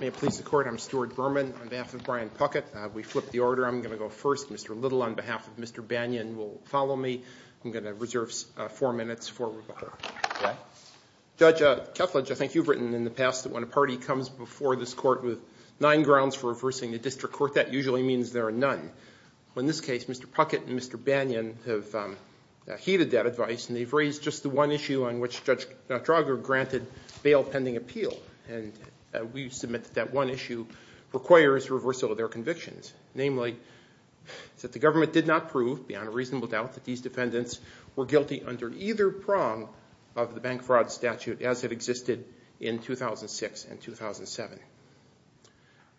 May it please the Court, I'm Stuart Berman on behalf of Bryan Puckett. We flipped the order. I'm going to go first. Mr. Little on behalf of Mr. Banyan will follow me. I'm going to reserve four minutes for rebuttal. Judge Kethledge, I think you've written in the past that when a party comes before this Court with nine grounds for reversing the district court, that usually means there are none. In this case, Mr. Puckett and Mr. Banyan have heeded that advice and they've raised just the one issue on which Judge Drager granted bail pending appeal. We submit that that one issue requires reversal of their convictions. Namely, that the government did not prove beyond a reasonable doubt that these defendants were guilty under either prong of the bank fraud statute as it existed in 2006 and 2007.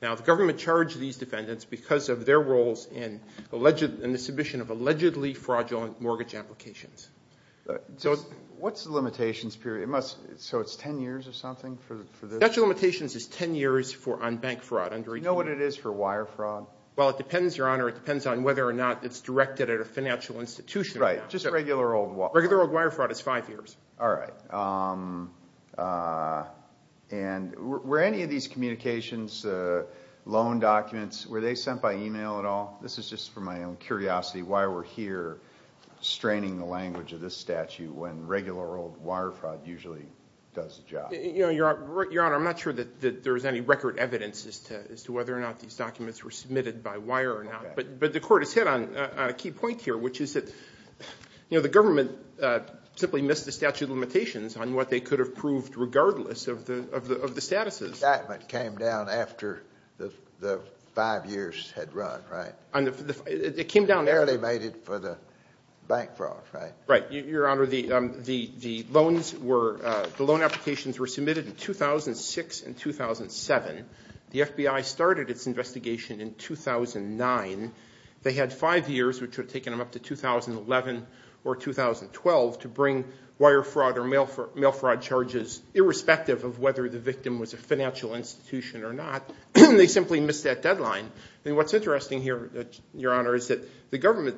Now, the government charged these defendants because of their roles in the submission of allegedly fraudulent mortgage applications. What's the limitations period? So it's ten years or something? The statute of limitations is ten years on bank fraud. Do you know what it is for wire fraud? Well, it depends, Your Honor. It depends on whether or not it's directed at a financial institution. Right, just regular old wire fraud. Regular old wire fraud is five years. All right. And were any of these communications, loan documents, were they sent by email at all? This is just for my own curiosity why we're here straining the language of this statute when regular old wire fraud usually does the job. Your Honor, I'm not sure that there's any record evidence as to whether or not these documents were submitted by wire or not. But the court has hit on a key point here, which is that, you know, the government simply missed the statute of limitations on what they could have proved regardless of the statuses. The indictment came down after the five years had run, right? It came down after. Barely made it for the bank fraud, right? Right. Your Honor, the loans were – the loan applications were submitted in 2006 and 2007. The FBI started its investigation in 2009. They had five years, which would have taken them up to 2011 or 2012, to bring wire fraud or mail fraud charges irrespective of whether the victim was a financial institution or not. They simply missed that deadline. And what's interesting here, Your Honor, is that the government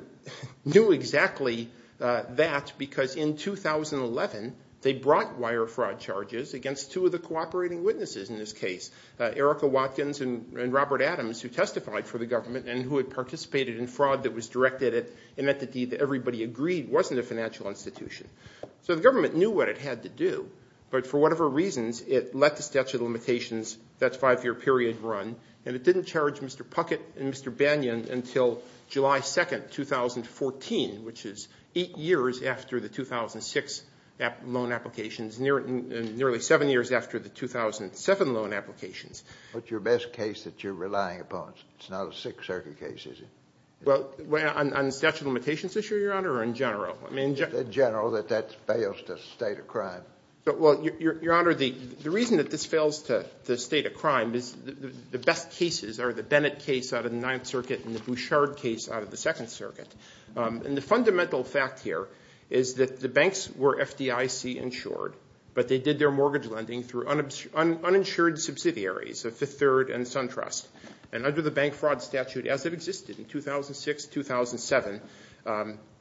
knew exactly that because in 2011 they brought wire fraud charges against two of the cooperating witnesses in this case. Erica Watkins and Robert Adams, who testified for the government and who had participated in fraud that was directed at an entity that everybody agreed wasn't a financial institution. So the government knew what it had to do. But for whatever reasons, it let the statute of limitations, that five-year period run, and it didn't charge Mr. Puckett and Mr. Banyan until July 2, 2014, which is eight years after the 2006 loan applications, nearly seven years after the 2007 loan applications. What's your best case that you're relying upon? It's not a Sixth Circuit case, is it? Well, on the statute of limitations issue, Your Honor, or in general? In general, that that fails to state a crime. Well, Your Honor, the reason that this fails to state a crime is the best cases are the Bennett case out of the Ninth Circuit and the Bouchard case out of the Second Circuit. And the fundamental fact here is that the banks were FDIC insured, but they did their mortgage lending through uninsured subsidiaries, Fifth Third and SunTrust. And under the bank fraud statute, as it existed in 2006-2007,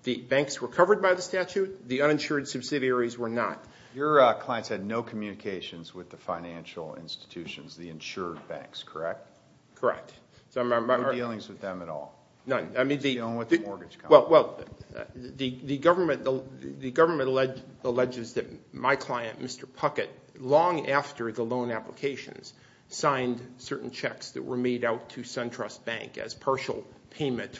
the banks were covered by the statute. The uninsured subsidiaries were not. Your clients had no communications with the financial institutions, the insured banks, correct? Correct. No dealings with them at all? None. No dealings with the mortgage companies? Well, the government alleges that my client, Mr. Puckett, long after the loan applications, signed certain checks that were made out to SunTrust Bank as partial payment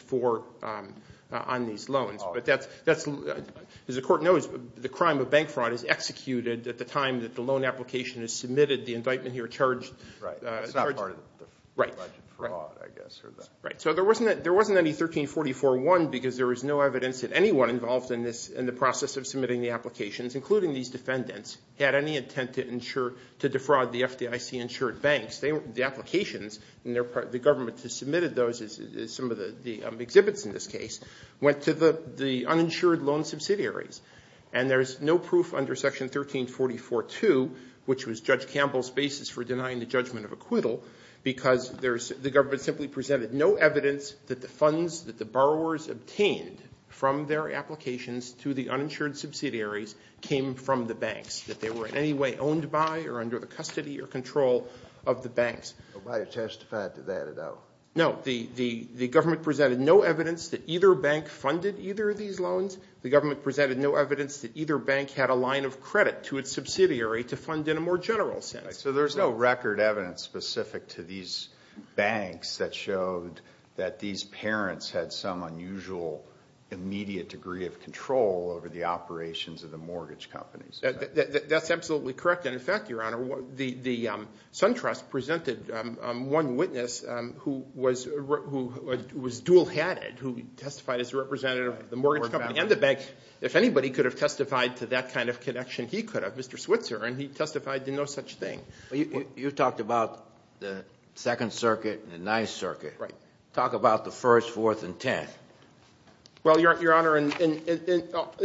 on these loans. But that's – as the court knows, the crime of bank fraud is executed at the time that the loan application is submitted. The indictment here charged – Right. It's not part of the alleged fraud, I guess. Right. So there wasn't any 1344-1 because there was no evidence that anyone involved in the process of submitting the applications, including these defendants, had any intent to defraud the FDIC insured banks. The applications, the government that submitted those, some of the exhibits in this case, went to the uninsured loan subsidiaries. And there's no proof under Section 1344-2, which was Judge Campbell's basis for denying the judgment of acquittal, because the government simply presented no evidence that the funds that the borrowers obtained from their applications to the uninsured subsidiaries came from the banks, that they were in any way owned by or under the custody or control of the banks. Nobody testified to that at all. No. The government presented no evidence that either bank funded either of these loans. The government presented no evidence that either bank had a line of credit to its subsidiary to fund in a more general sense. Right. So there's no record evidence specific to these banks that showed that these parents had some unusual immediate degree of control over the operations of the mortgage companies. That's absolutely correct. And, in fact, Your Honor, the SunTrust presented one witness who was dual-headed, who testified as a representative of the mortgage company and the bank. If anybody could have testified to that kind of connection, he could have, Mr. Switzer, and he testified to no such thing. You talked about the Second Circuit and the Ninth Circuit. Right. Talk about the First, Fourth, and Tenth. Well, Your Honor, in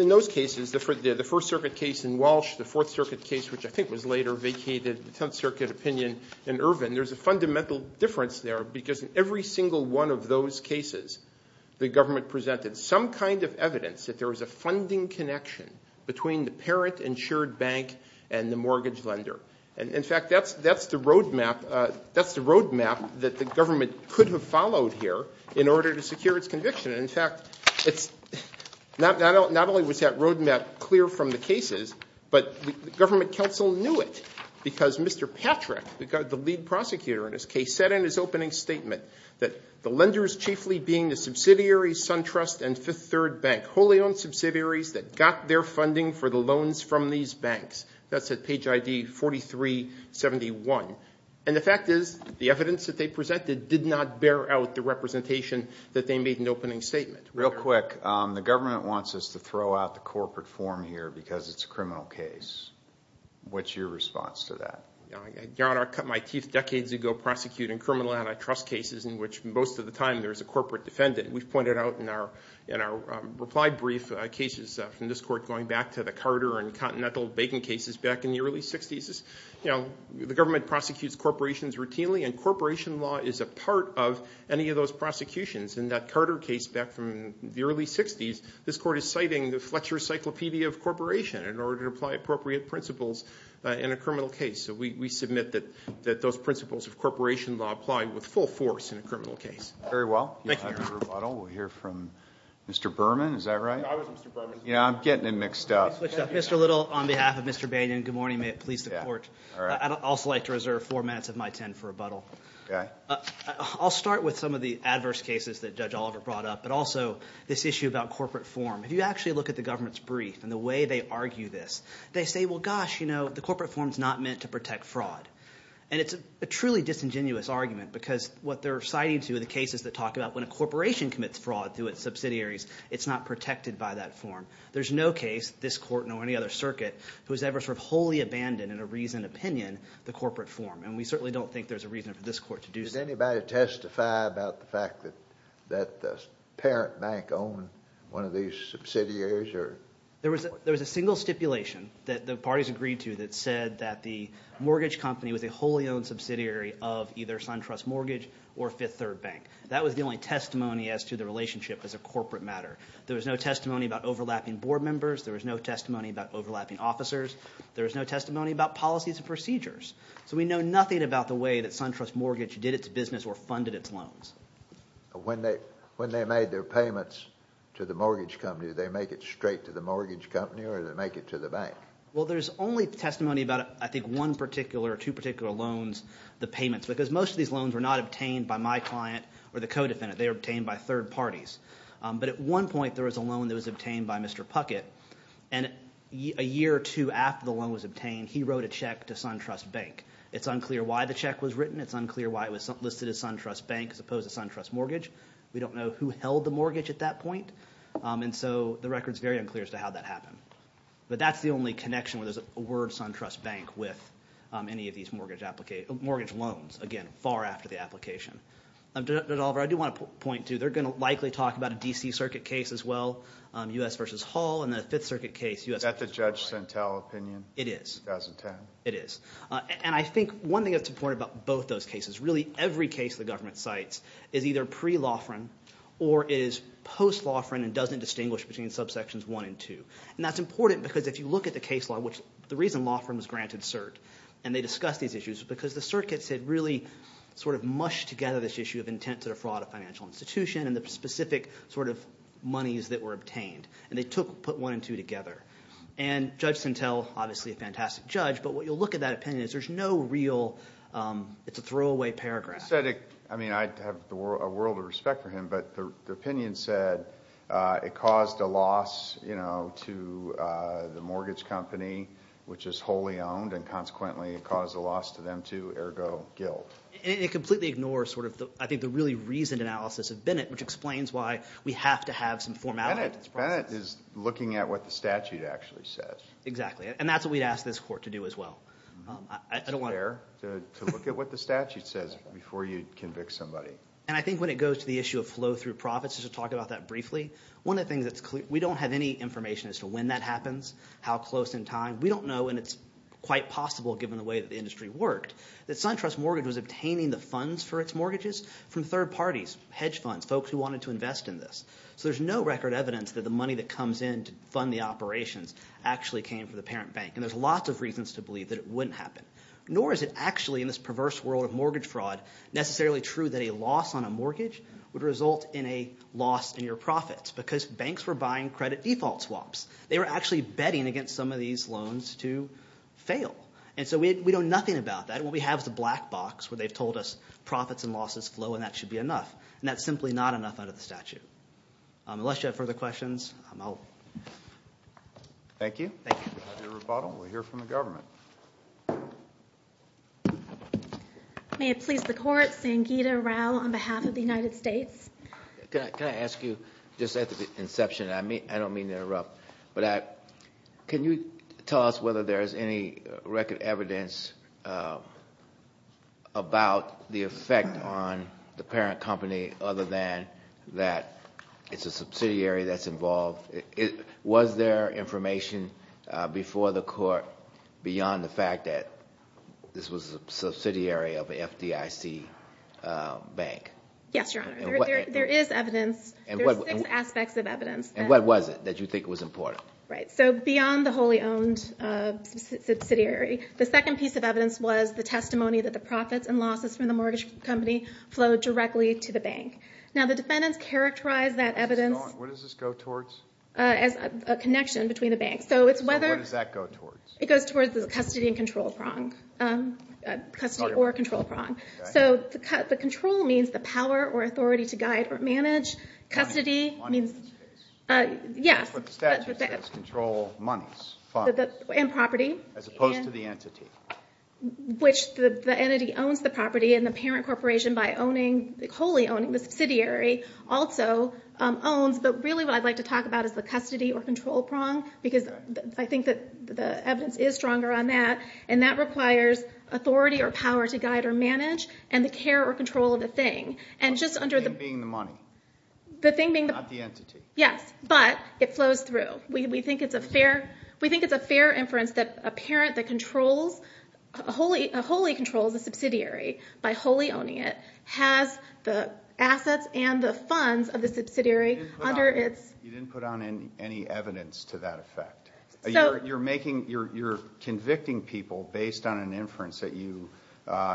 those cases, the First Circuit case in Walsh, the Fourth Circuit case, which I think was later vacated, the Tenth Circuit opinion in Irvin, there's a fundamental difference there, because in every single one of those cases, the government presented some kind of evidence that there was a funding connection between the parent and shared bank and the mortgage lender. And, in fact, that's the road map that the government could have followed here in order to secure its conviction. In fact, not only was that road map clear from the cases, but the government counsel knew it because Mr. Patrick, the lead prosecutor in his case, said in his opening statement that the lenders chiefly being the subsidiaries, SunTrust, and Fifth Third Bank, wholly owned subsidiaries that got their funding for the loans from these banks. That's at page ID 4371. And the fact is the evidence that they presented did not bear out the representation that they made in the opening statement. Real quick, the government wants us to throw out the corporate form here because it's a criminal case. What's your response to that? I cut my teeth decades ago prosecuting criminal antitrust cases in which most of the time there's a corporate defendant. We've pointed out in our reply brief cases from this court going back to the Carter and Continental banking cases back in the early 60s, the government prosecutes corporations routinely, and corporation law is a part of any of those prosecutions. In that Carter case back from the early 60s, this court is citing the Fletcher Encyclopedia of Corporation in order to apply appropriate principles in a criminal case. So we submit that those principles of corporation law apply with full force in a criminal case. Very well. Thank you, Your Honor. We'll hear from Mr. Berman. Is that right? I was Mr. Berman. Yeah, I'm getting it mixed up. Mr. Little, on behalf of Mr. Bain, good morning. May it please the court. I'd also like to reserve four minutes of my time for rebuttal. Okay. I'll start with some of the adverse cases that Judge Oliver brought up, but also this issue about corporate form. If you actually look at the government's brief and the way they argue this, they say, well, gosh, you know, the corporate form is not meant to protect fraud, and it's a truly disingenuous argument because what they're citing to are the cases that talk about when a corporation commits fraud through its subsidiaries, it's not protected by that form. There's no case, this court nor any other circuit, who has ever sort of wholly abandoned in a reasoned opinion the corporate form, and we certainly don't think there's a reason for this court to do so. Did anybody testify about the fact that the parent bank owned one of these subsidiaries? There was a single stipulation that the parties agreed to that said that the mortgage company was a wholly owned subsidiary of either SunTrust Mortgage or Fifth Third Bank. That was the only testimony as to the relationship as a corporate matter. There was no testimony about overlapping board members. There was no testimony about overlapping officers. There was no testimony about policies and procedures. So we know nothing about the way that SunTrust Mortgage did its business or funded its loans. When they made their payments to the mortgage company, did they make it straight to the mortgage company or did they make it to the bank? Well, there's only testimony about, I think, one particular or two particular loans, the payments, because most of these loans were not obtained by my client or the co-defendant. They were obtained by third parties. But at one point there was a loan that was obtained by Mr. Puckett, and a year or two after the loan was obtained, he wrote a check to SunTrust Bank. It's unclear why the check was written. It's unclear why it was listed as SunTrust Bank as opposed to SunTrust Mortgage. We don't know who held the mortgage at that point, and so the record is very unclear as to how that happened. But that's the only connection where there's a word SunTrust Bank with any of these mortgage loans, again, far after the application. Oliver, I do want to point to, they're going to likely talk about a D.C. Circuit case as well, U.S. v. Hall, and the Fifth Circuit case, U.S. v. Hall. Is that the Judge Sentel opinion? It is. 2010? It is. And I think one thing that's important about both those cases, really every case the government cites, is either pre-Lofgren or is post-Lofgren and doesn't distinguish between subsections one and two. And that's important because if you look at the case law, which the reason Lofgren was granted cert and they discussed these issues is because the circuits had really sort of mushed together this issue of intent to defraud a financial institution and the specific sort of monies that were obtained. And they put one and two together. And Judge Sentel, obviously a fantastic judge, but what you'll look at that opinion is there's no real, it's a throwaway paragraph. He said it, I mean I have a world of respect for him, but the opinion said it caused a loss to the mortgage company, which is wholly owned, and consequently it caused a loss to them too, ergo guilt. And it completely ignores sort of I think the really reasoned analysis of Bennett, which explains why we have to have some formality. Bennett is looking at what the statute actually says. Exactly. And that's what we'd ask this court to do as well. To look at what the statute says before you convict somebody. And I think when it goes to the issue of flow through profits, just to talk about that briefly, one of the things that's clear, we don't have any information as to when that happens, how close in time. We don't know, and it's quite possible given the way that the industry worked, that SunTrust Mortgage was obtaining the funds for its mortgages from third parties, hedge funds, folks who wanted to invest in this. So there's no record evidence that the money that comes in to fund the operations actually came from the parent bank. And there's lots of reasons to believe that it wouldn't happen. Nor is it actually in this perverse world of mortgage fraud necessarily true that a loss on a mortgage would result in a loss in your profits. Because banks were buying credit default swaps. They were actually betting against some of these loans to fail. And so we know nothing about that. What we have is a black box where they've told us profits and losses flow, and that should be enough. And that's simply not enough under the statute. Unless you have further questions, I'm out. Thank you. Have your rebuttal. We'll hear from the government. May it please the court, Sangeeta Rao on behalf of the United States. Can I ask you, just at the inception, and I don't mean to interrupt, but can you tell us whether there is any record evidence about the effect on the parent company other than that it's a subsidiary that's involved? Was there information before the court beyond the fact that this was a subsidiary of an FDIC bank? Yes, Your Honor. There is evidence. There's six aspects of evidence. And what was it that you think was important? Right. So beyond the wholly owned subsidiary, the second piece of evidence was the testimony that the profits and losses from the mortgage company flowed directly to the bank. Now the defendants characterized that evidence as a connection between the banks. So what does that go towards? It goes towards the custody and control prong, custody or control prong. So the control means the power or authority to guide or manage. Money in this case. Yes. That's what the statute says, control monies, funds. And property. As opposed to the entity. Which the entity owns the property, and the parent corporation, by wholly owning the subsidiary, also owns. But really what I'd like to talk about is the custody or control prong, because I think that the evidence is stronger on that. And that requires authority or power to guide or manage, and the care or control of the thing. The thing being the money. The thing being the money. Not the entity. Yes. But it flows through. We think it's a fair inference that a parent that wholly controls a subsidiary by wholly owning it, has the assets and the funds of the subsidiary under its... You didn't put on any evidence to that effect. You're making, you're convicting people based on an inference that you,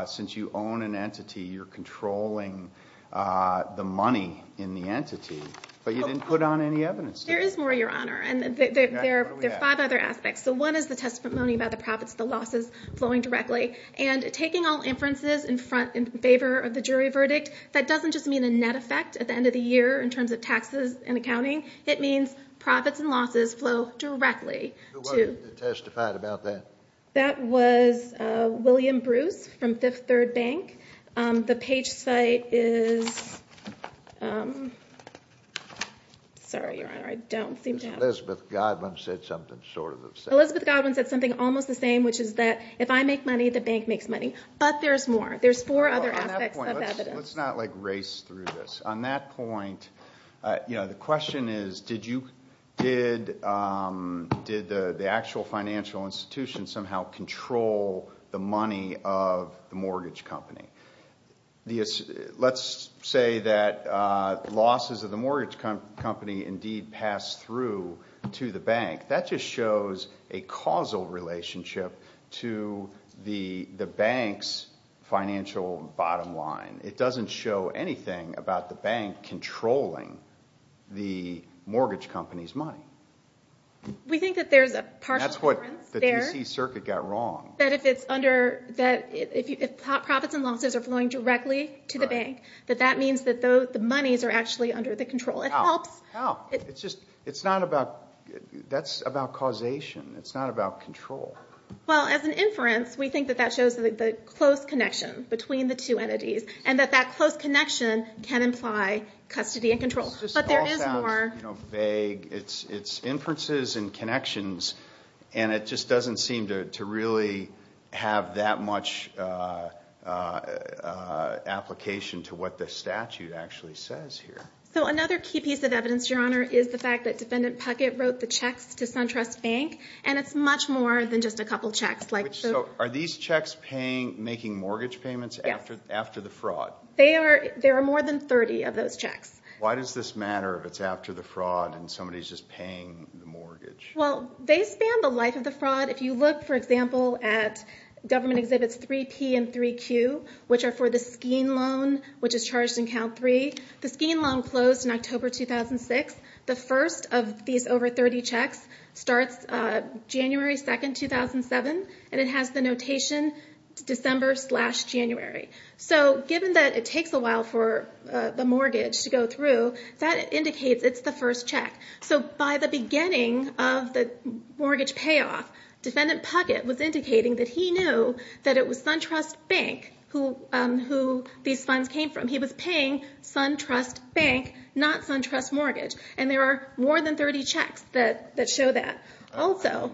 since you own an entity, you're controlling the money in the entity. But you didn't put on any evidence. There is more, Your Honor. And there are five other aspects. So one is the testimony about the profits and the losses flowing directly. And taking all inferences in favor of the jury verdict, that doesn't just mean a net effect at the end of the year in terms of taxes and accounting. It means profits and losses flow directly to... Who testified about that? That was William Bruce from Fifth Third Bank. The page site is... Sorry, Your Honor, I don't seem to have... Elizabeth Godwin said something sort of the same. Elizabeth Godwin said something almost the same, which is that if I make money, the bank makes money. But there's more. There's four other aspects of evidence. Let's not race through this. On that point, the question is did the actual financial institution somehow control the money of the mortgage company? Let's say that losses of the mortgage company indeed pass through to the bank. That just shows a causal relationship to the bank's financial bottom line. It doesn't show anything about the bank controlling the mortgage company's money. We think that there's a partial inference there. That's what the D.C. Circuit got wrong. That if profits and losses are flowing directly to the bank, that that means that the monies are actually under the control. It helps. It's not about causation. It's not about control. Well, as an inference, we think that that shows the close connection between the two entities and that that close connection can imply custody and control. But there is more. This all sounds vague. It's inferences and connections, and it just doesn't seem to really have that much application to what the statute actually says here. So another key piece of evidence, Your Honor, is the fact that Defendant Puckett wrote the checks to SunTrust Bank, and it's much more than just a couple checks. So are these checks making mortgage payments after the fraud? Yes. There are more than 30 of those checks. Why does this matter if it's after the fraud and somebody's just paying the mortgage? Well, they span the life of the fraud. If you look, for example, at government exhibits 3P and 3Q, which are for the Skene loan, which is charged in Count 3, the Skene loan closed in October 2006. The first of these over 30 checks starts January 2, 2007, and it has the notation December slash January. So given that it takes a while for the mortgage to go through, that indicates it's the first check. So by the beginning of the mortgage payoff, Defendant Puckett was indicating that he knew that it was SunTrust Bank who these funds came from. He was paying SunTrust Bank, not SunTrust Mortgage, and there are more than 30 checks that show that. Also,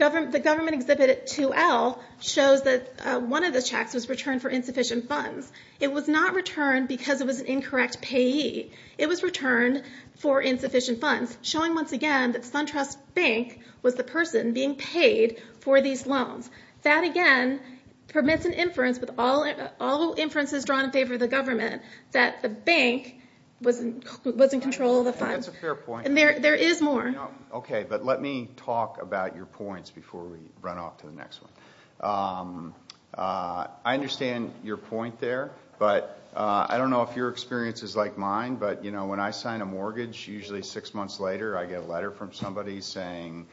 the government exhibit 2L shows that one of the checks was returned for insufficient funds. It was not returned because it was an incorrect payee. It was returned for insufficient funds, showing once again that SunTrust Bank was the person being paid for these loans. That, again, permits an inference with all inferences drawn in favor of the government that the bank was in control of the funds. That's a fair point. There is more. Okay, but let me talk about your points before we run off to the next one. I understand your point there, but I don't know if your experience is like mine, but when I sign a mortgage, usually six months later I get a letter from somebody saying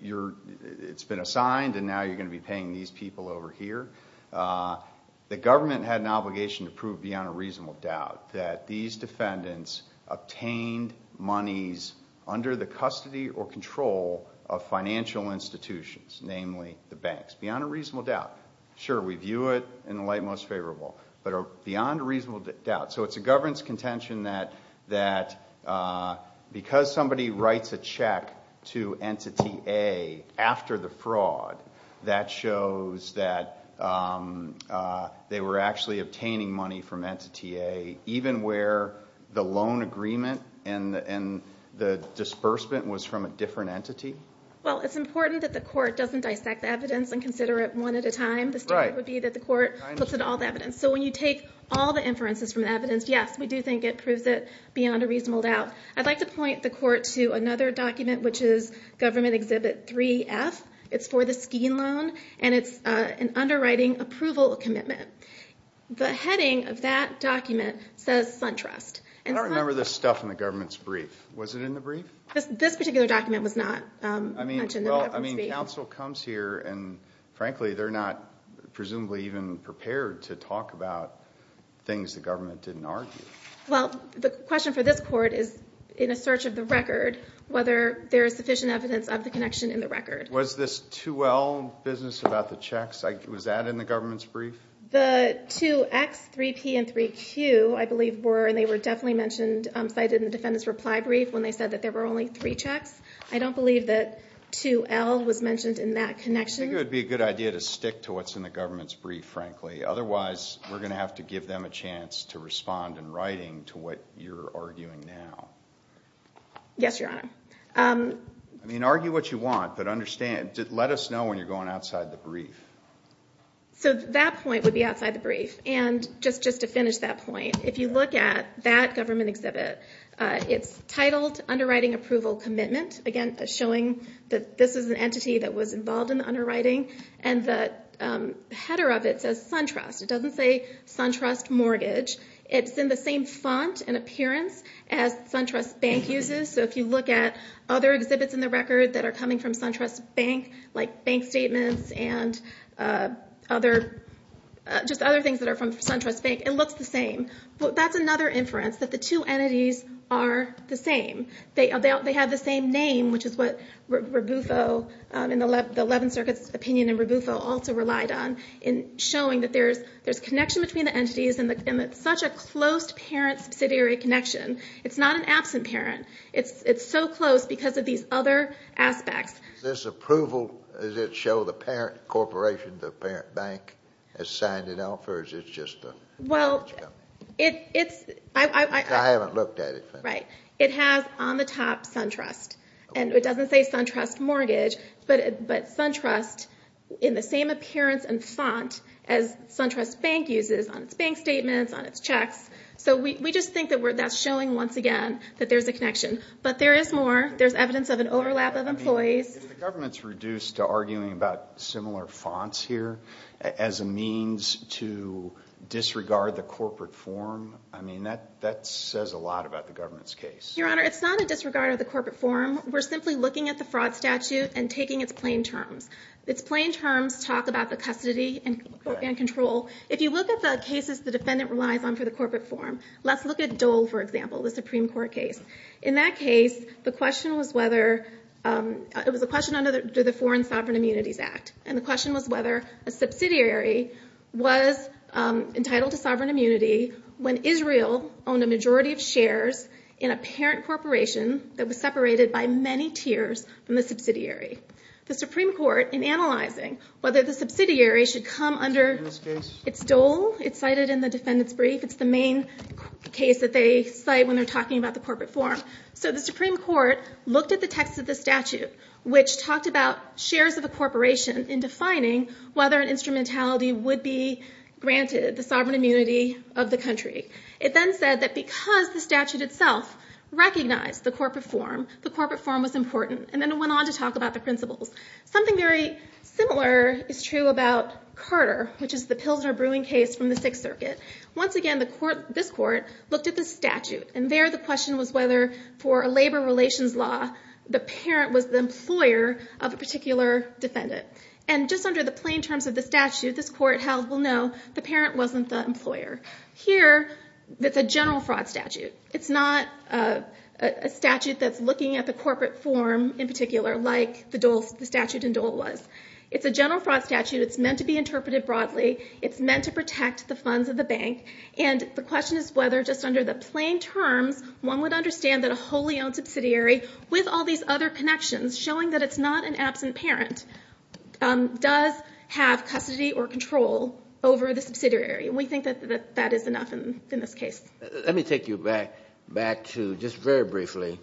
it's been assigned and now you're going to be paying these people over here. The government had an obligation to prove beyond a reasonable doubt that these defendants obtained monies under the custody or control of financial institutions, namely the banks. Beyond a reasonable doubt. Sure, we view it in the light most favorable, but beyond a reasonable doubt. So it's a governance contention that because somebody writes a check to Entity A after the fraud, that shows that they were actually obtaining money from Entity A, even where the loan agreement and the disbursement was from a different entity? Well, it's important that the court doesn't dissect the evidence and consider it one at a time. Right. The standard would be that the court looks at all the evidence. So when you take all the inferences from the evidence, yes, we do think it proves it beyond a reasonable doubt. I'd like to point the court to another document, which is Government Exhibit 3F. It's for the Skene loan, and it's an underwriting approval commitment. The heading of that document says SunTrust. I don't remember this stuff in the government's brief. Was it in the brief? This particular document was not mentioned in the government's brief. I mean, counsel comes here, and frankly, they're not presumably even prepared to talk about things the government didn't argue. Well, the question for this court is, in a search of the record, whether there is sufficient evidence of the connection in the record. Was this 2L business about the checks? Was that in the government's brief? The 2X, 3P, and 3Q, I believe, were, and they were definitely cited in the defendant's reply brief when they said that there were only three checks. I don't believe that 2L was mentioned in that connection. I think it would be a good idea to stick to what's in the government's brief, frankly. Otherwise, we're going to have to give them a chance to respond in writing to what you're arguing now. Yes, Your Honor. I mean, argue what you want, but let us know when you're going outside the brief. So that point would be outside the brief. And just to finish that point, if you look at that government exhibit, it's titled Underwriting Approval Commitment. Again, showing that this is an entity that was involved in the underwriting. And the header of it says SunTrust. It doesn't say SunTrust Mortgage. It's in the same font and appearance as SunTrust Bank uses. So if you look at other exhibits in the record that are coming from SunTrust Bank, like bank statements and just other things that are from SunTrust Bank, it looks the same. But that's another inference, that the two entities are the same. They have the same name, which is what Rabufo, in the Eleventh Circuit's opinion, and Rabufo also relied on, in showing that there's a connection between the entities and such a close parent-subsidiary connection. It's not an absent parent. It's so close because of these other aspects. Does this approval, does it show the parent corporation, the parent bank, has signed it off, or is it just the mortgage company? I haven't looked at it. Right. It has, on the top, SunTrust. And it doesn't say SunTrust Mortgage, but SunTrust in the same appearance and font as SunTrust Bank uses on its bank statements, on its checks. So we just think that that's showing, once again, that there's a connection. But there is more. There's evidence of an overlap of employees. If the government's reduced to arguing about similar fonts here as a means to disregard the corporate form, I mean, that says a lot about the government's case. Your Honor, it's not a disregard of the corporate form. We're simply looking at the fraud statute and taking its plain terms. Its plain terms talk about the custody and control. If you look at the cases the defendant relies on for the corporate form, let's look at Dole, for example, the Supreme Court case. In that case, the question was whether – it was a question under the Foreign Sovereign Immunities Act. And the question was whether a subsidiary was entitled to sovereign immunity when Israel owned a majority of shares in a parent corporation that was separated by many tiers from the subsidiary. The Supreme Court, in analyzing whether the subsidiary should come under – it's Dole. It's cited in the defendant's brief. It's the main case that they cite when they're talking about the corporate form. So the Supreme Court looked at the text of the statute, which talked about shares of a corporation, in defining whether an instrumentality would be granted the sovereign immunity of the country. It then said that because the statute itself recognized the corporate form, the corporate form was important. And then it went on to talk about the principles. Something very similar is true about Carter, which is the Pilsner brewing case from the Sixth Circuit. Once again, this court looked at the statute. And there the question was whether, for a labor relations law, the parent was the employer of a particular defendant. And just under the plain terms of the statute this court held, well, no, the parent wasn't the employer. Here, it's a general fraud statute. It's not a statute that's looking at the corporate form in particular like the statute in Dole was. It's a general fraud statute. It's meant to be interpreted broadly. It's meant to protect the funds of the bank. And the question is whether, just under the plain terms, one would understand that a wholly owned subsidiary, with all these other connections showing that it's not an absent parent, does have custody or control over the subsidiary. And we think that that is enough in this case. Let me take you back to, just very briefly,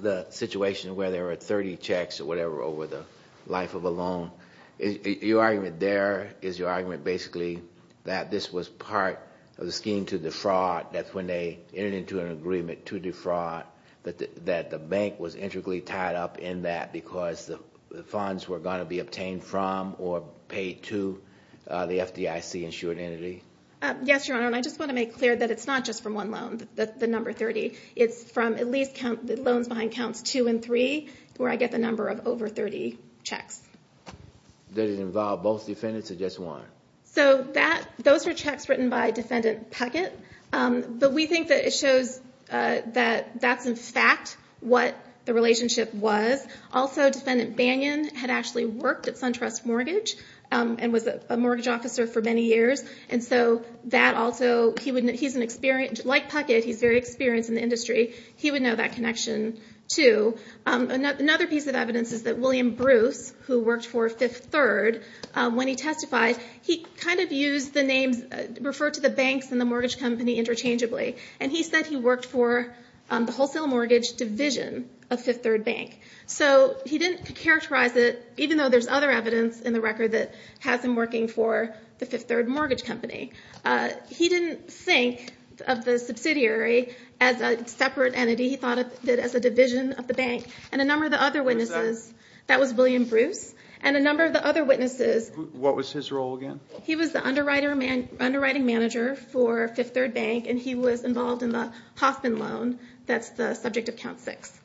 the situation where there were 30 checks or whatever over the life of a loan. Your argument there is your argument basically that this was part of the scheme to defraud. That's when they entered into an agreement to defraud, that the bank was intricately tied up in that because the funds were going to be obtained from or paid to the FDIC insured entity. Yes, Your Honor. And I just want to make clear that it's not just from one loan, the number 30. It's from at least loans behind counts 2 and 3 where I get the number of over 30 checks. Did it involve both defendants or just one? So those are checks written by Defendant Puckett. But we think that it shows that that's, in fact, what the relationship was. Also, Defendant Banyon had actually worked at SunTrust Mortgage and was a mortgage officer for many years. Like Puckett, he's very experienced in the industry. He would know that connection, too. Another piece of evidence is that William Bruce, who worked for Fifth Third, when he testified, he referred to the banks and the mortgage company interchangeably. And he said he worked for the Wholesale Mortgage Division of Fifth Third Bank. So he didn't characterize it, even though there's other evidence in the record that has him working for the Fifth Third Mortgage Company. He didn't think of the subsidiary as a separate entity. He thought of it as a division of the bank. And a number of the other witnesses, that was William Bruce, and a number of the other witnesses. What was his role again? He was the underwriting manager for Fifth Third Bank, and he was involved in the Hoffman loan. That's the subject of count 6.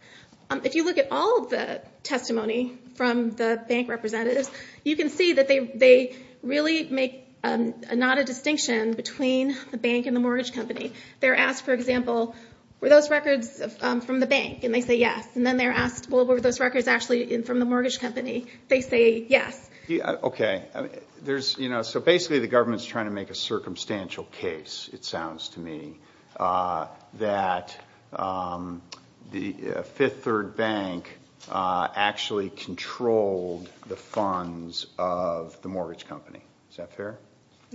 If you look at all of the testimony from the bank representatives, you can see that they really make not a distinction between the bank and the mortgage company. They're asked, for example, were those records from the bank? And they say yes. And then they're asked, well, were those records actually from the mortgage company? They say yes. Okay. So basically the government's trying to make a circumstantial case, it sounds to me, that Fifth Third Bank actually controlled the funds of the mortgage company. Is that fair?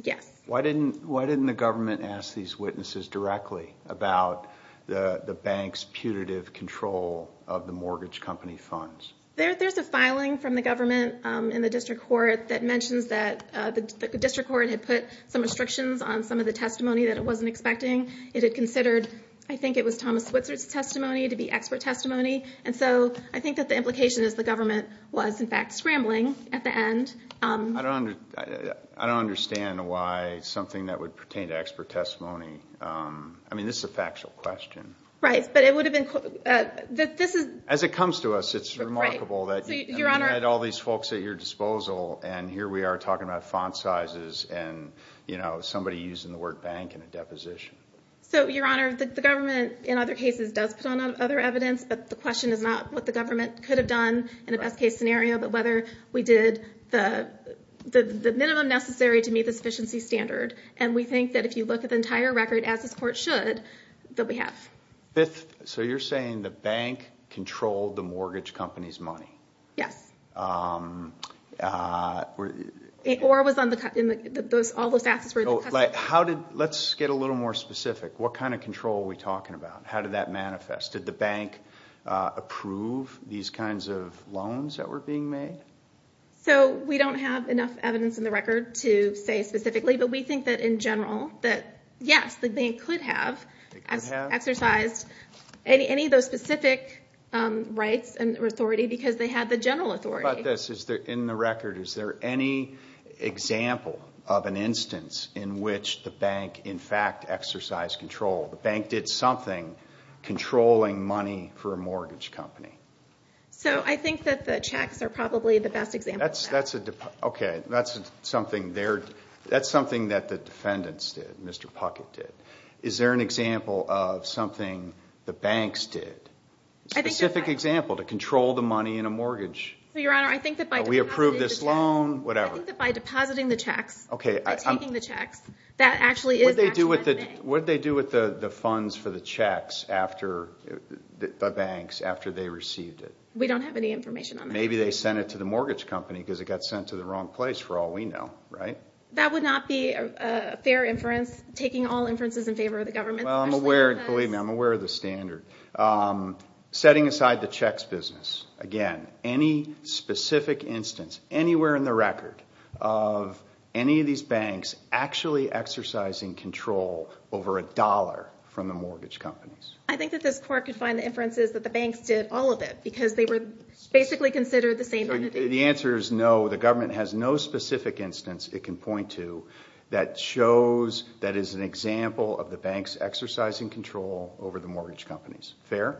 Yes. Why didn't the government ask these witnesses directly about the bank's putative control of the mortgage company funds? There's a filing from the government in the district court that mentions that the district court had put some restrictions on some of the testimony that it wasn't expecting. It had considered, I think it was Thomas Switzer's testimony to be expert testimony. And so I think that the implication is the government was, in fact, scrambling at the end. I don't understand why something that would pertain to expert testimony. I mean, this is a factual question. Right. But it would have been – this is – As it comes to us, it's remarkable that you had all these folks at your disposal, and here we are talking about font sizes and, you know, somebody using the word bank in a deposition. So, Your Honor, the government in other cases does put on other evidence, but the question is not what the government could have done in a best case scenario, but whether we did the minimum necessary to meet the sufficiency standard. And we think that if you look at the entire record, as this court should, that we have. So you're saying the bank controlled the mortgage company's money? Yes. Or it was on the – all those taxes were in the custody. How did – let's get a little more specific. What kind of control are we talking about? How did that manifest? Did the bank approve these kinds of loans that were being made? So we don't have enough evidence in the record to say specifically, but we think that in general that, yes, the bank could have exercised any of those specific rights and authority because they had the general authority. How about this? In the record, is there any example of an instance in which the bank, in fact, exercised control? The bank did something controlling money for a mortgage company. So I think that the checks are probably the best example of that. Okay. That's something there – that's something that the defendants did, Mr. Puckett did. Is there an example of something the banks did? A specific example to control the money in a mortgage. Your Honor, I think that by depositing the checks – We approved this loan, whatever. I think that by depositing the checks, by taking the checks, that actually is – What did they do with the funds for the checks after the banks, after they received it? We don't have any information on that. Maybe they sent it to the mortgage company because it got sent to the wrong place, for all we know, right? That would not be a fair inference, taking all inferences in favor of the government. Believe me, I'm aware of the standard. Setting aside the checks business, again, any specific instance, anywhere in the record, of any of these banks actually exercising control over a dollar from the mortgage companies. I think that this Court could find the inferences that the banks did all of it because they were basically considered the same entity. The answer is no. The government has no specific instance it can point to that shows that is an example of the banks exercising control over the mortgage companies. Fair?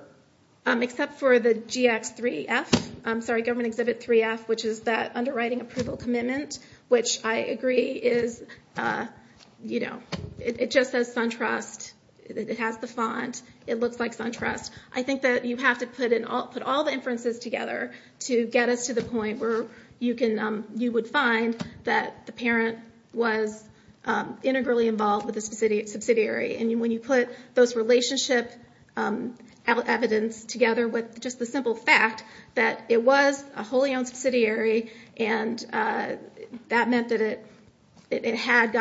Except for the GX3F. I'm sorry, Government Exhibit 3F, which is that underwriting approval commitment, which I agree is – it just says SunTrust. It has the font. It looks like SunTrust. I think that you have to put all the inferences together to get us to the point where you would find that the parent was integrally involved with the subsidiary. When you put those relationship evidence together with just the simple fact that it was a wholly owned subsidiary and that meant that it had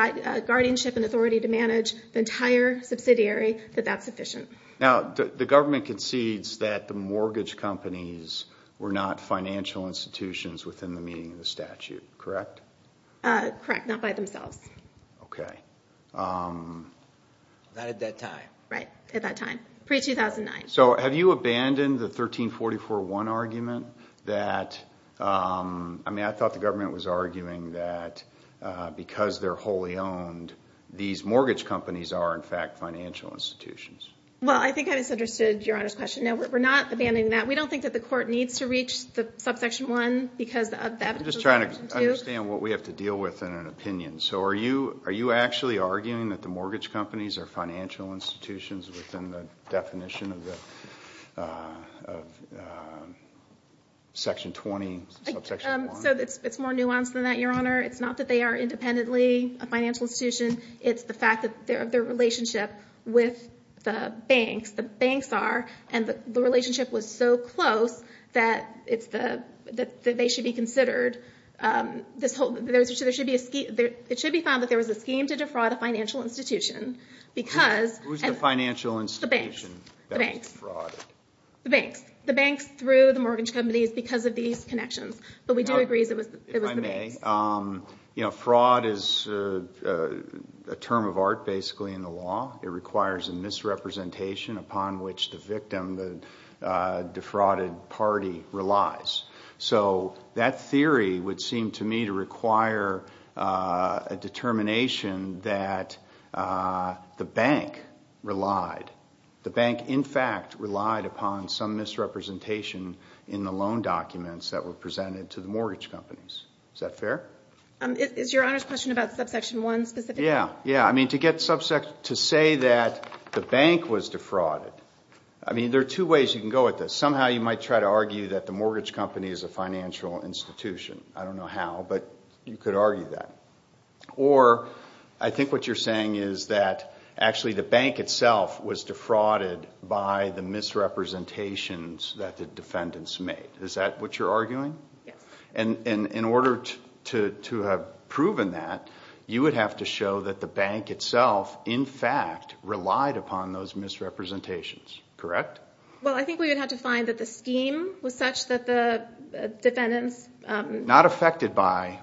guardianship and authority to manage the entire subsidiary, that that's sufficient. Now, the government concedes that the mortgage companies were not financial institutions within the meaning of the statute, correct? Correct, not by themselves. Okay. Not at that time. Right, at that time, pre-2009. So have you abandoned the 1344.1 argument that – I mean, I thought the government was arguing that because they're wholly owned, these mortgage companies are, in fact, financial institutions. Well, I think I misunderstood Your Honor's question. No, we're not abandoning that. We don't think that the court needs to reach the subsection 1 because of that. I'm just trying to understand what we have to deal with in an opinion. So are you actually arguing that the mortgage companies are financial institutions within the definition of section 20, subsection 1? So it's more nuanced than that, Your Honor. It's not that they are independently a financial institution. It's the fact that their relationship with the banks, the banks are, and the relationship was so close that they should be considered. It should be found that there was a scheme to defraud a financial institution because – Who's the financial institution that was frauded? The banks. The banks through the mortgage companies because of these connections. But we do agree it was the banks. If I may, fraud is a term of art basically in the law. It requires a misrepresentation upon which the victim, the defrauded party, relies. So that theory would seem to me to require a determination that the bank relied. The bank, in fact, relied upon some misrepresentation in the loan documents that were presented to the mortgage companies. Is that fair? Is Your Honor's question about subsection 1 specific? Yeah. Yeah. I mean, to say that the bank was defrauded, I mean, there are two ways you can go at this. Somehow you might try to argue that the mortgage company is a financial institution. I don't know how, but you could argue that. Or I think what you're saying is that actually the bank itself was defrauded by the misrepresentations that the defendants made. Is that what you're arguing? Yes. And in order to have proven that, you would have to show that the bank itself, in fact, relied upon those misrepresentations. Correct? Well, I think we would have to find that the scheme was such that the defendants Not affected by,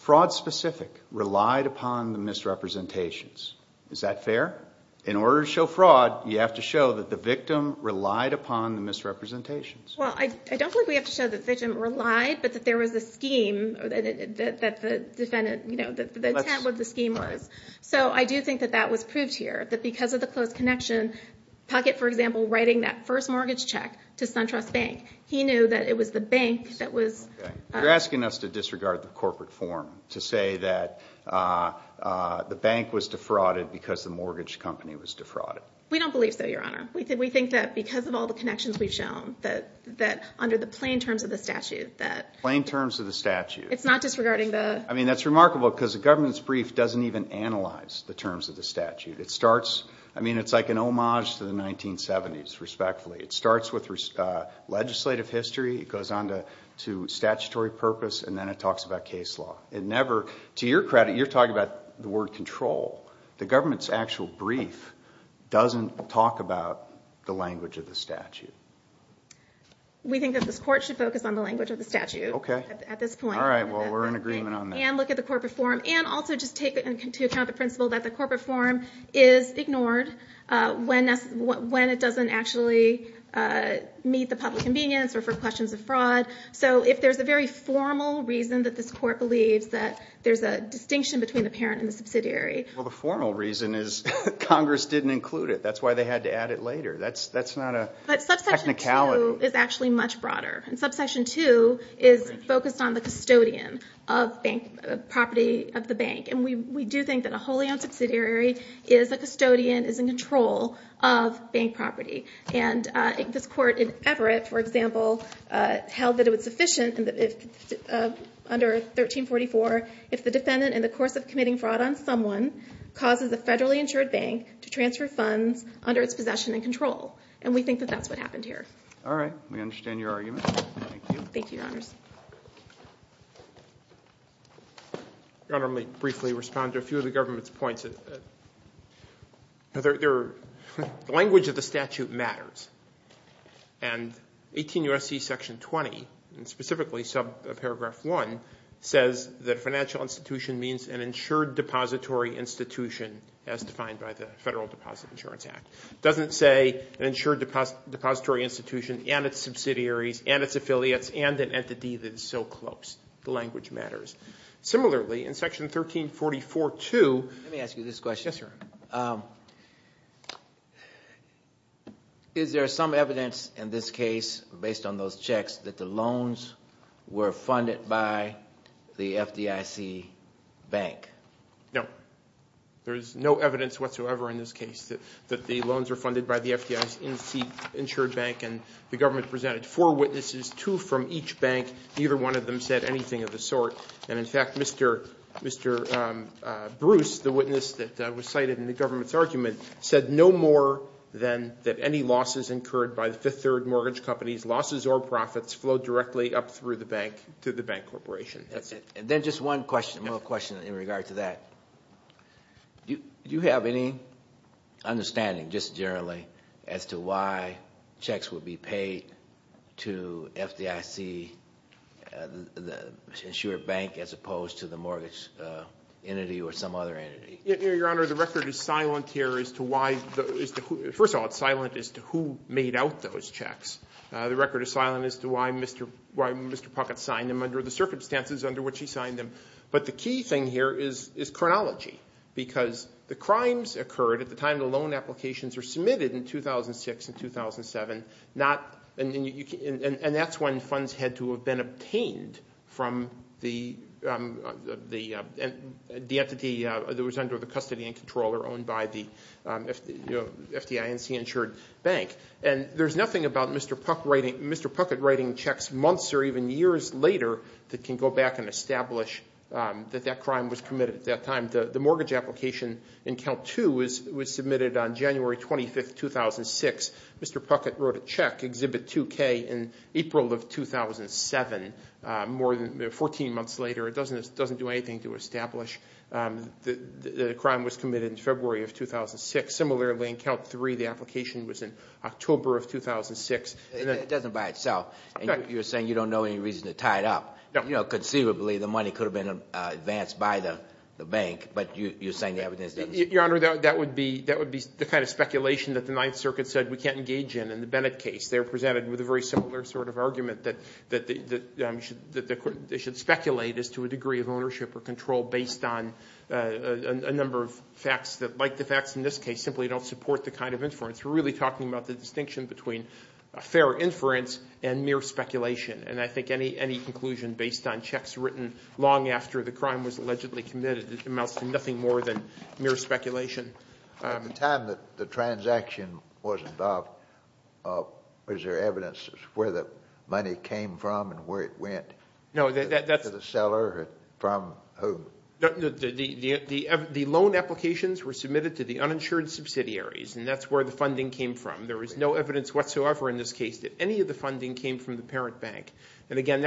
fraud specific, relied upon the misrepresentations. Is that fair? In order to show fraud, you have to show that the victim relied upon the misrepresentations. Well, I don't think we have to show that the victim relied, but that there was a scheme that the defendant, you know, the intent of the scheme was. So I do think that that was proved here, that because of the close connection, Puckett, for example, writing that first mortgage check to SunTrust Bank, he knew that it was the bank that was You're asking us to disregard the corporate form, to say that the bank was defrauded because the mortgage company was defrauded. We don't believe so, Your Honor. We think that because of all the connections we've shown, that under the plain terms of the statute, that Plain terms of the statute. It's not disregarding the I mean, that's remarkable because the government's brief doesn't even analyze the terms of the statute. It starts, I mean, it's like an homage to the 1970s, respectfully. It starts with legislative history. It goes on to statutory purpose, and then it talks about case law. It never, to your credit, you're talking about the word control. The government's actual brief doesn't talk about the language of the statute. We think that this court should focus on the language of the statute at this point. All right, well, we're in agreement on that. And look at the corporate form, and also just take into account the principle that the corporate form is ignored when it doesn't actually meet the public convenience or for questions of fraud. So if there's a very formal reason that this court believes that there's a distinction between the parent and the subsidiary Well, the formal reason is Congress didn't include it. That's why they had to add it later. That's not a technicality. But Subsection 2 is actually much broader. And Subsection 2 is focused on the custodian of property of the bank. And we do think that a wholly owned subsidiary is a custodian, is in control of bank property. And this court in Everett, for example, held that it was sufficient under 1344 if the defendant, in the course of committing fraud on someone, causes a federally insured bank to transfer funds under its possession and control. And we think that that's what happened here. All right. We understand your argument. Thank you. Thank you, Your Honors. Your Honor, let me briefly respond to a few of the government's points. The language of the statute matters. And 18 U.S.C. Section 20, and specifically Subparagraph 1, says that a financial institution means an insured depository institution as defined by the Federal Deposit Insurance Act. It doesn't say an insured depository institution and its subsidiaries and its affiliates and an entity that is so close. The language matters. Similarly, in Section 1344-2 Let me ask you this question. Yes, Your Honor. Is there some evidence in this case, based on those checks, that the loans were funded by the FDIC bank? No. There is no evidence whatsoever in this case that the loans were funded by the FDIC insured bank. And the government presented four witnesses, two from each bank. Neither one of them said anything of the sort. And, in fact, Mr. Bruce, the witness that was cited in the government's argument, said no more than that any losses incurred by the Fifth Third Mortgage Company's losses or profits flow directly up through the bank to the bank corporation. That's it. Then just one more question in regard to that. Do you have any understanding, just generally, as to why checks would be paid to FDIC, the insured bank, as opposed to the mortgage entity or some other entity? Your Honor, the record is silent here as to why. First of all, it's silent as to who made out those checks. The record is silent as to why Mr. Puckett signed them under the circumstances under which he signed them. But the key thing here is chronology, because the crimes occurred at the time the loan applications were submitted in 2006 and 2007, and that's when funds had to have been obtained from the entity that was under the custody and control or owned by the FDIC insured bank. And there's nothing about Mr. Puckett writing checks months or even years later that can go back and establish that that crime was committed at that time. The mortgage application in Count 2 was submitted on January 25, 2006. Mr. Puckett wrote a check, Exhibit 2K, in April of 2007, 14 months later. It doesn't do anything to establish that a crime was committed in February of 2006. Similarly, in Count 3, the application was in October of 2006. It doesn't by itself, and you're saying you don't know any reason to tie it up. You know, conceivably the money could have been advanced by the bank, but you're saying the evidence doesn't support that. Your Honor, that would be the kind of speculation that the Ninth Circuit said we can't engage in in the Bennett case. They're presented with a very similar sort of argument that they should speculate as to a degree of ownership or control based on a number of facts that, like the facts in this case, simply don't support the kind of inference. We're really talking about the distinction between a fair inference and mere speculation. And I think any conclusion based on checks written long after the crime was allegedly committed amounts to nothing more than mere speculation. At the time that the transaction was involved, was there evidence of where the money came from and where it went? No, that's... To the seller or from whom? The loan applications were submitted to the uninsured subsidiaries, and that's where the funding came from. There was no evidence whatsoever in this case that any of the funding came from the parent bank. And, again,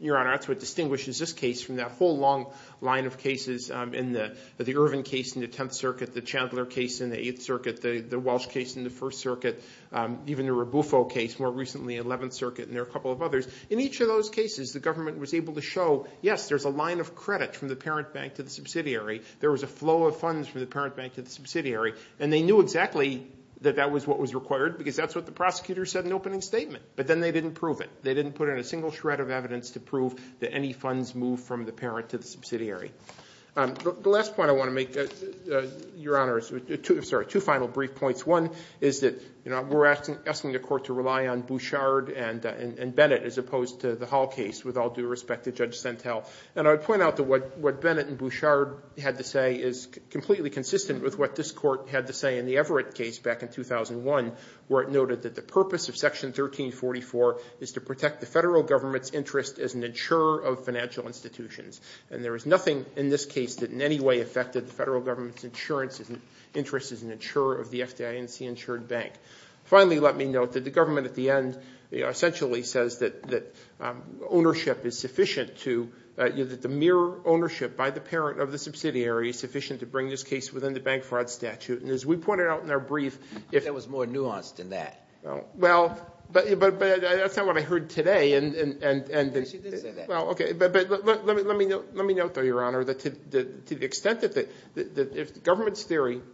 Your Honor, that's what distinguishes this case from that whole long line of cases, the Ervin case in the Tenth Circuit, the Chandler case in the Eighth Circuit, the Walsh case in the First Circuit, even the Rabufo case more recently in the Eleventh Circuit, and there are a couple of others. In each of those cases, the government was able to show, yes, there's a line of credit from the parent bank to the subsidiary. There was a flow of funds from the parent bank to the subsidiary. And they knew exactly that that was what was required because that's what the prosecutor said in the opening statement. But then they didn't prove it. They didn't put in a single shred of evidence to prove that any funds moved from the parent to the subsidiary. The last point I want to make, Your Honor, is two final brief points. One is that we're asking the Court to rely on Bouchard and Bennett as opposed to the Hall case with all due respect to Judge Sentel. And I would point out that what Bennett and Bouchard had to say is completely consistent with what this Court had to say in the Everett case back in 2001, where it noted that the purpose of Section 1344 is to protect the federal government's interest as an insurer of financial institutions. And there is nothing in this case that in any way affected the federal government's interest as an insurer of the FDIC-insured bank. Finally, let me note that the government at the end essentially says that ownership is sufficient to – that the mere ownership by the parent of the subsidiary is sufficient to bring this case within the bank fraud statute. And as we pointed out in our brief – That was more nuanced than that. Well, but that's not what I heard today. Yes, you did say that. Let me note, though, Your Honor, that to the extent that the government's theory –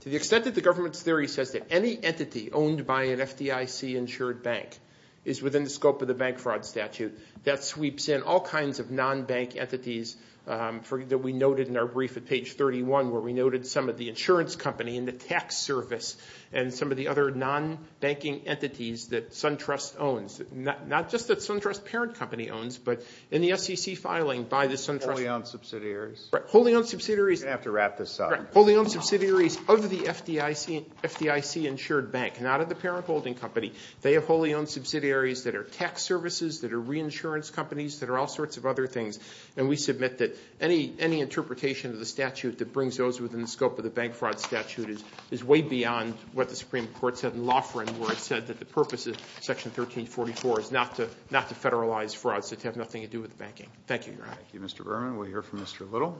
to the extent that the government's theory says that any entity owned by an FDIC-insured bank is within the scope of the bank fraud statute, that sweeps in all kinds of non-bank entities that we noted in our brief at page 31, where we noted some of the insurance company and the tax service and some of the other non-banking entities that SunTrust owns. Not just that SunTrust's parent company owns, but in the SEC filing by the SunTrust – Wholly owned subsidiaries. Right. Wholly owned subsidiaries – You're going to have to wrap this up. Right. Wholly owned subsidiaries of the FDIC-insured bank, not of the parent holding company. They have wholly owned subsidiaries that are tax services, that are reinsurance companies, that are all sorts of other things. And we submit that any interpretation of the statute that brings those within the scope of the bank fraud statute is way beyond what the Supreme Court said in Loughran, where it said that the purpose of Section 1344 is not to federalize fraud, so to have nothing to do with the banking. Thank you, Your Honor. Thank you, Mr. Berman. We'll hear from Mr. Little.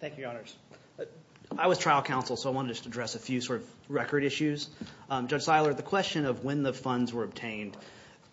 Thank you, Your Honors. I was trial counsel, so I want to just address a few sort of record issues. Judge Seiler, the question of when the funds were obtained –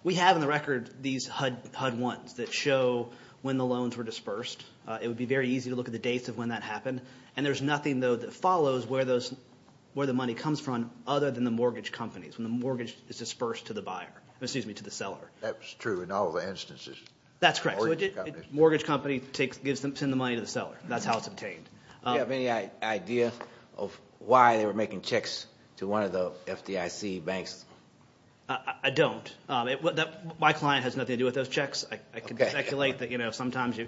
we have in the record these HUD 1s that show when the loans were dispersed. It would be very easy to look at the dates of when that happened. And there's nothing, though, that follows where the money comes from other than the mortgage companies, when the mortgage is dispersed to the buyer – excuse me, to the seller. That's true in all the instances. That's correct. Mortgage companies. Mortgage company sends the money to the seller. That's how it's obtained. Do you have any idea of why they were making checks to one of the FDIC banks? I don't. My client has nothing to do with those checks. I can speculate that sometimes you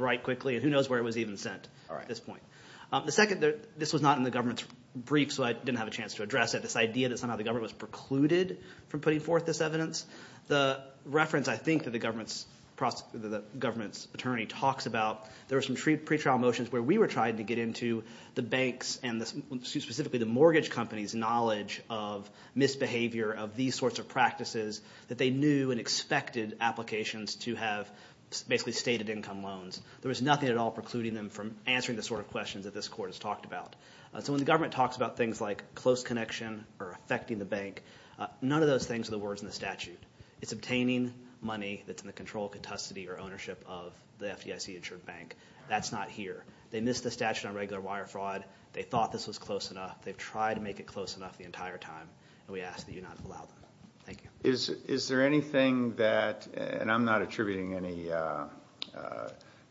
write quickly, and who knows where it was even sent at this point. The second – this was not in the government's brief, so I didn't have a chance to address it – this idea that somehow the government was precluded from putting forth this evidence. The reference, I think, that the government's attorney talks about, there were some pretrial motions where we were trying to get into the banks and specifically the mortgage companies' knowledge of misbehavior, of these sorts of practices, that they knew and expected applications to have basically stated income loans. There was nothing at all precluding them from answering the sort of questions that this court has talked about. So when the government talks about things like close connection or affecting the bank, none of those things are the words in the statute. It's obtaining money that's in the control, capacity, or ownership of the FDIC-insured bank. That's not here. They missed the statute on regular wire fraud. They thought this was close enough. They've tried to make it close enough the entire time, and we ask that you not allow them. Thank you. Is there anything that – and I'm not attributing any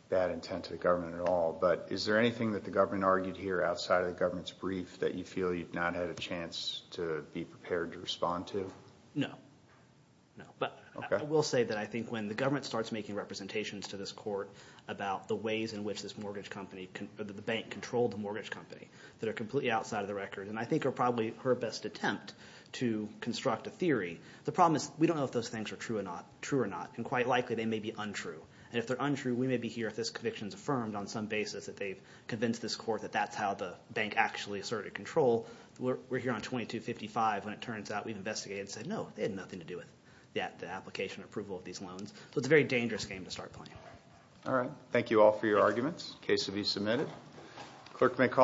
bad intent to the government at all – but is there anything that the government argued here outside of the government's brief that you feel you've not had a chance to be prepared to respond to? No. But I will say that I think when the government starts making representations to this court about the ways in which this mortgage company – the bank controlled the mortgage company that are completely outside of the record and I think are probably her best attempt to construct a theory, the problem is we don't know if those things are true or not. And quite likely they may be untrue. And if they're untrue, we may be here if this conviction is affirmed on some basis that they've convinced this court that that's how the bank actually asserted control. We're here on 2255 when it turns out we've investigated and said, no, they had nothing to do with the application approval of these loans. So it's a very dangerous game to start playing. All right. Thank you all for your arguments. The case will be submitted. Clerk may call.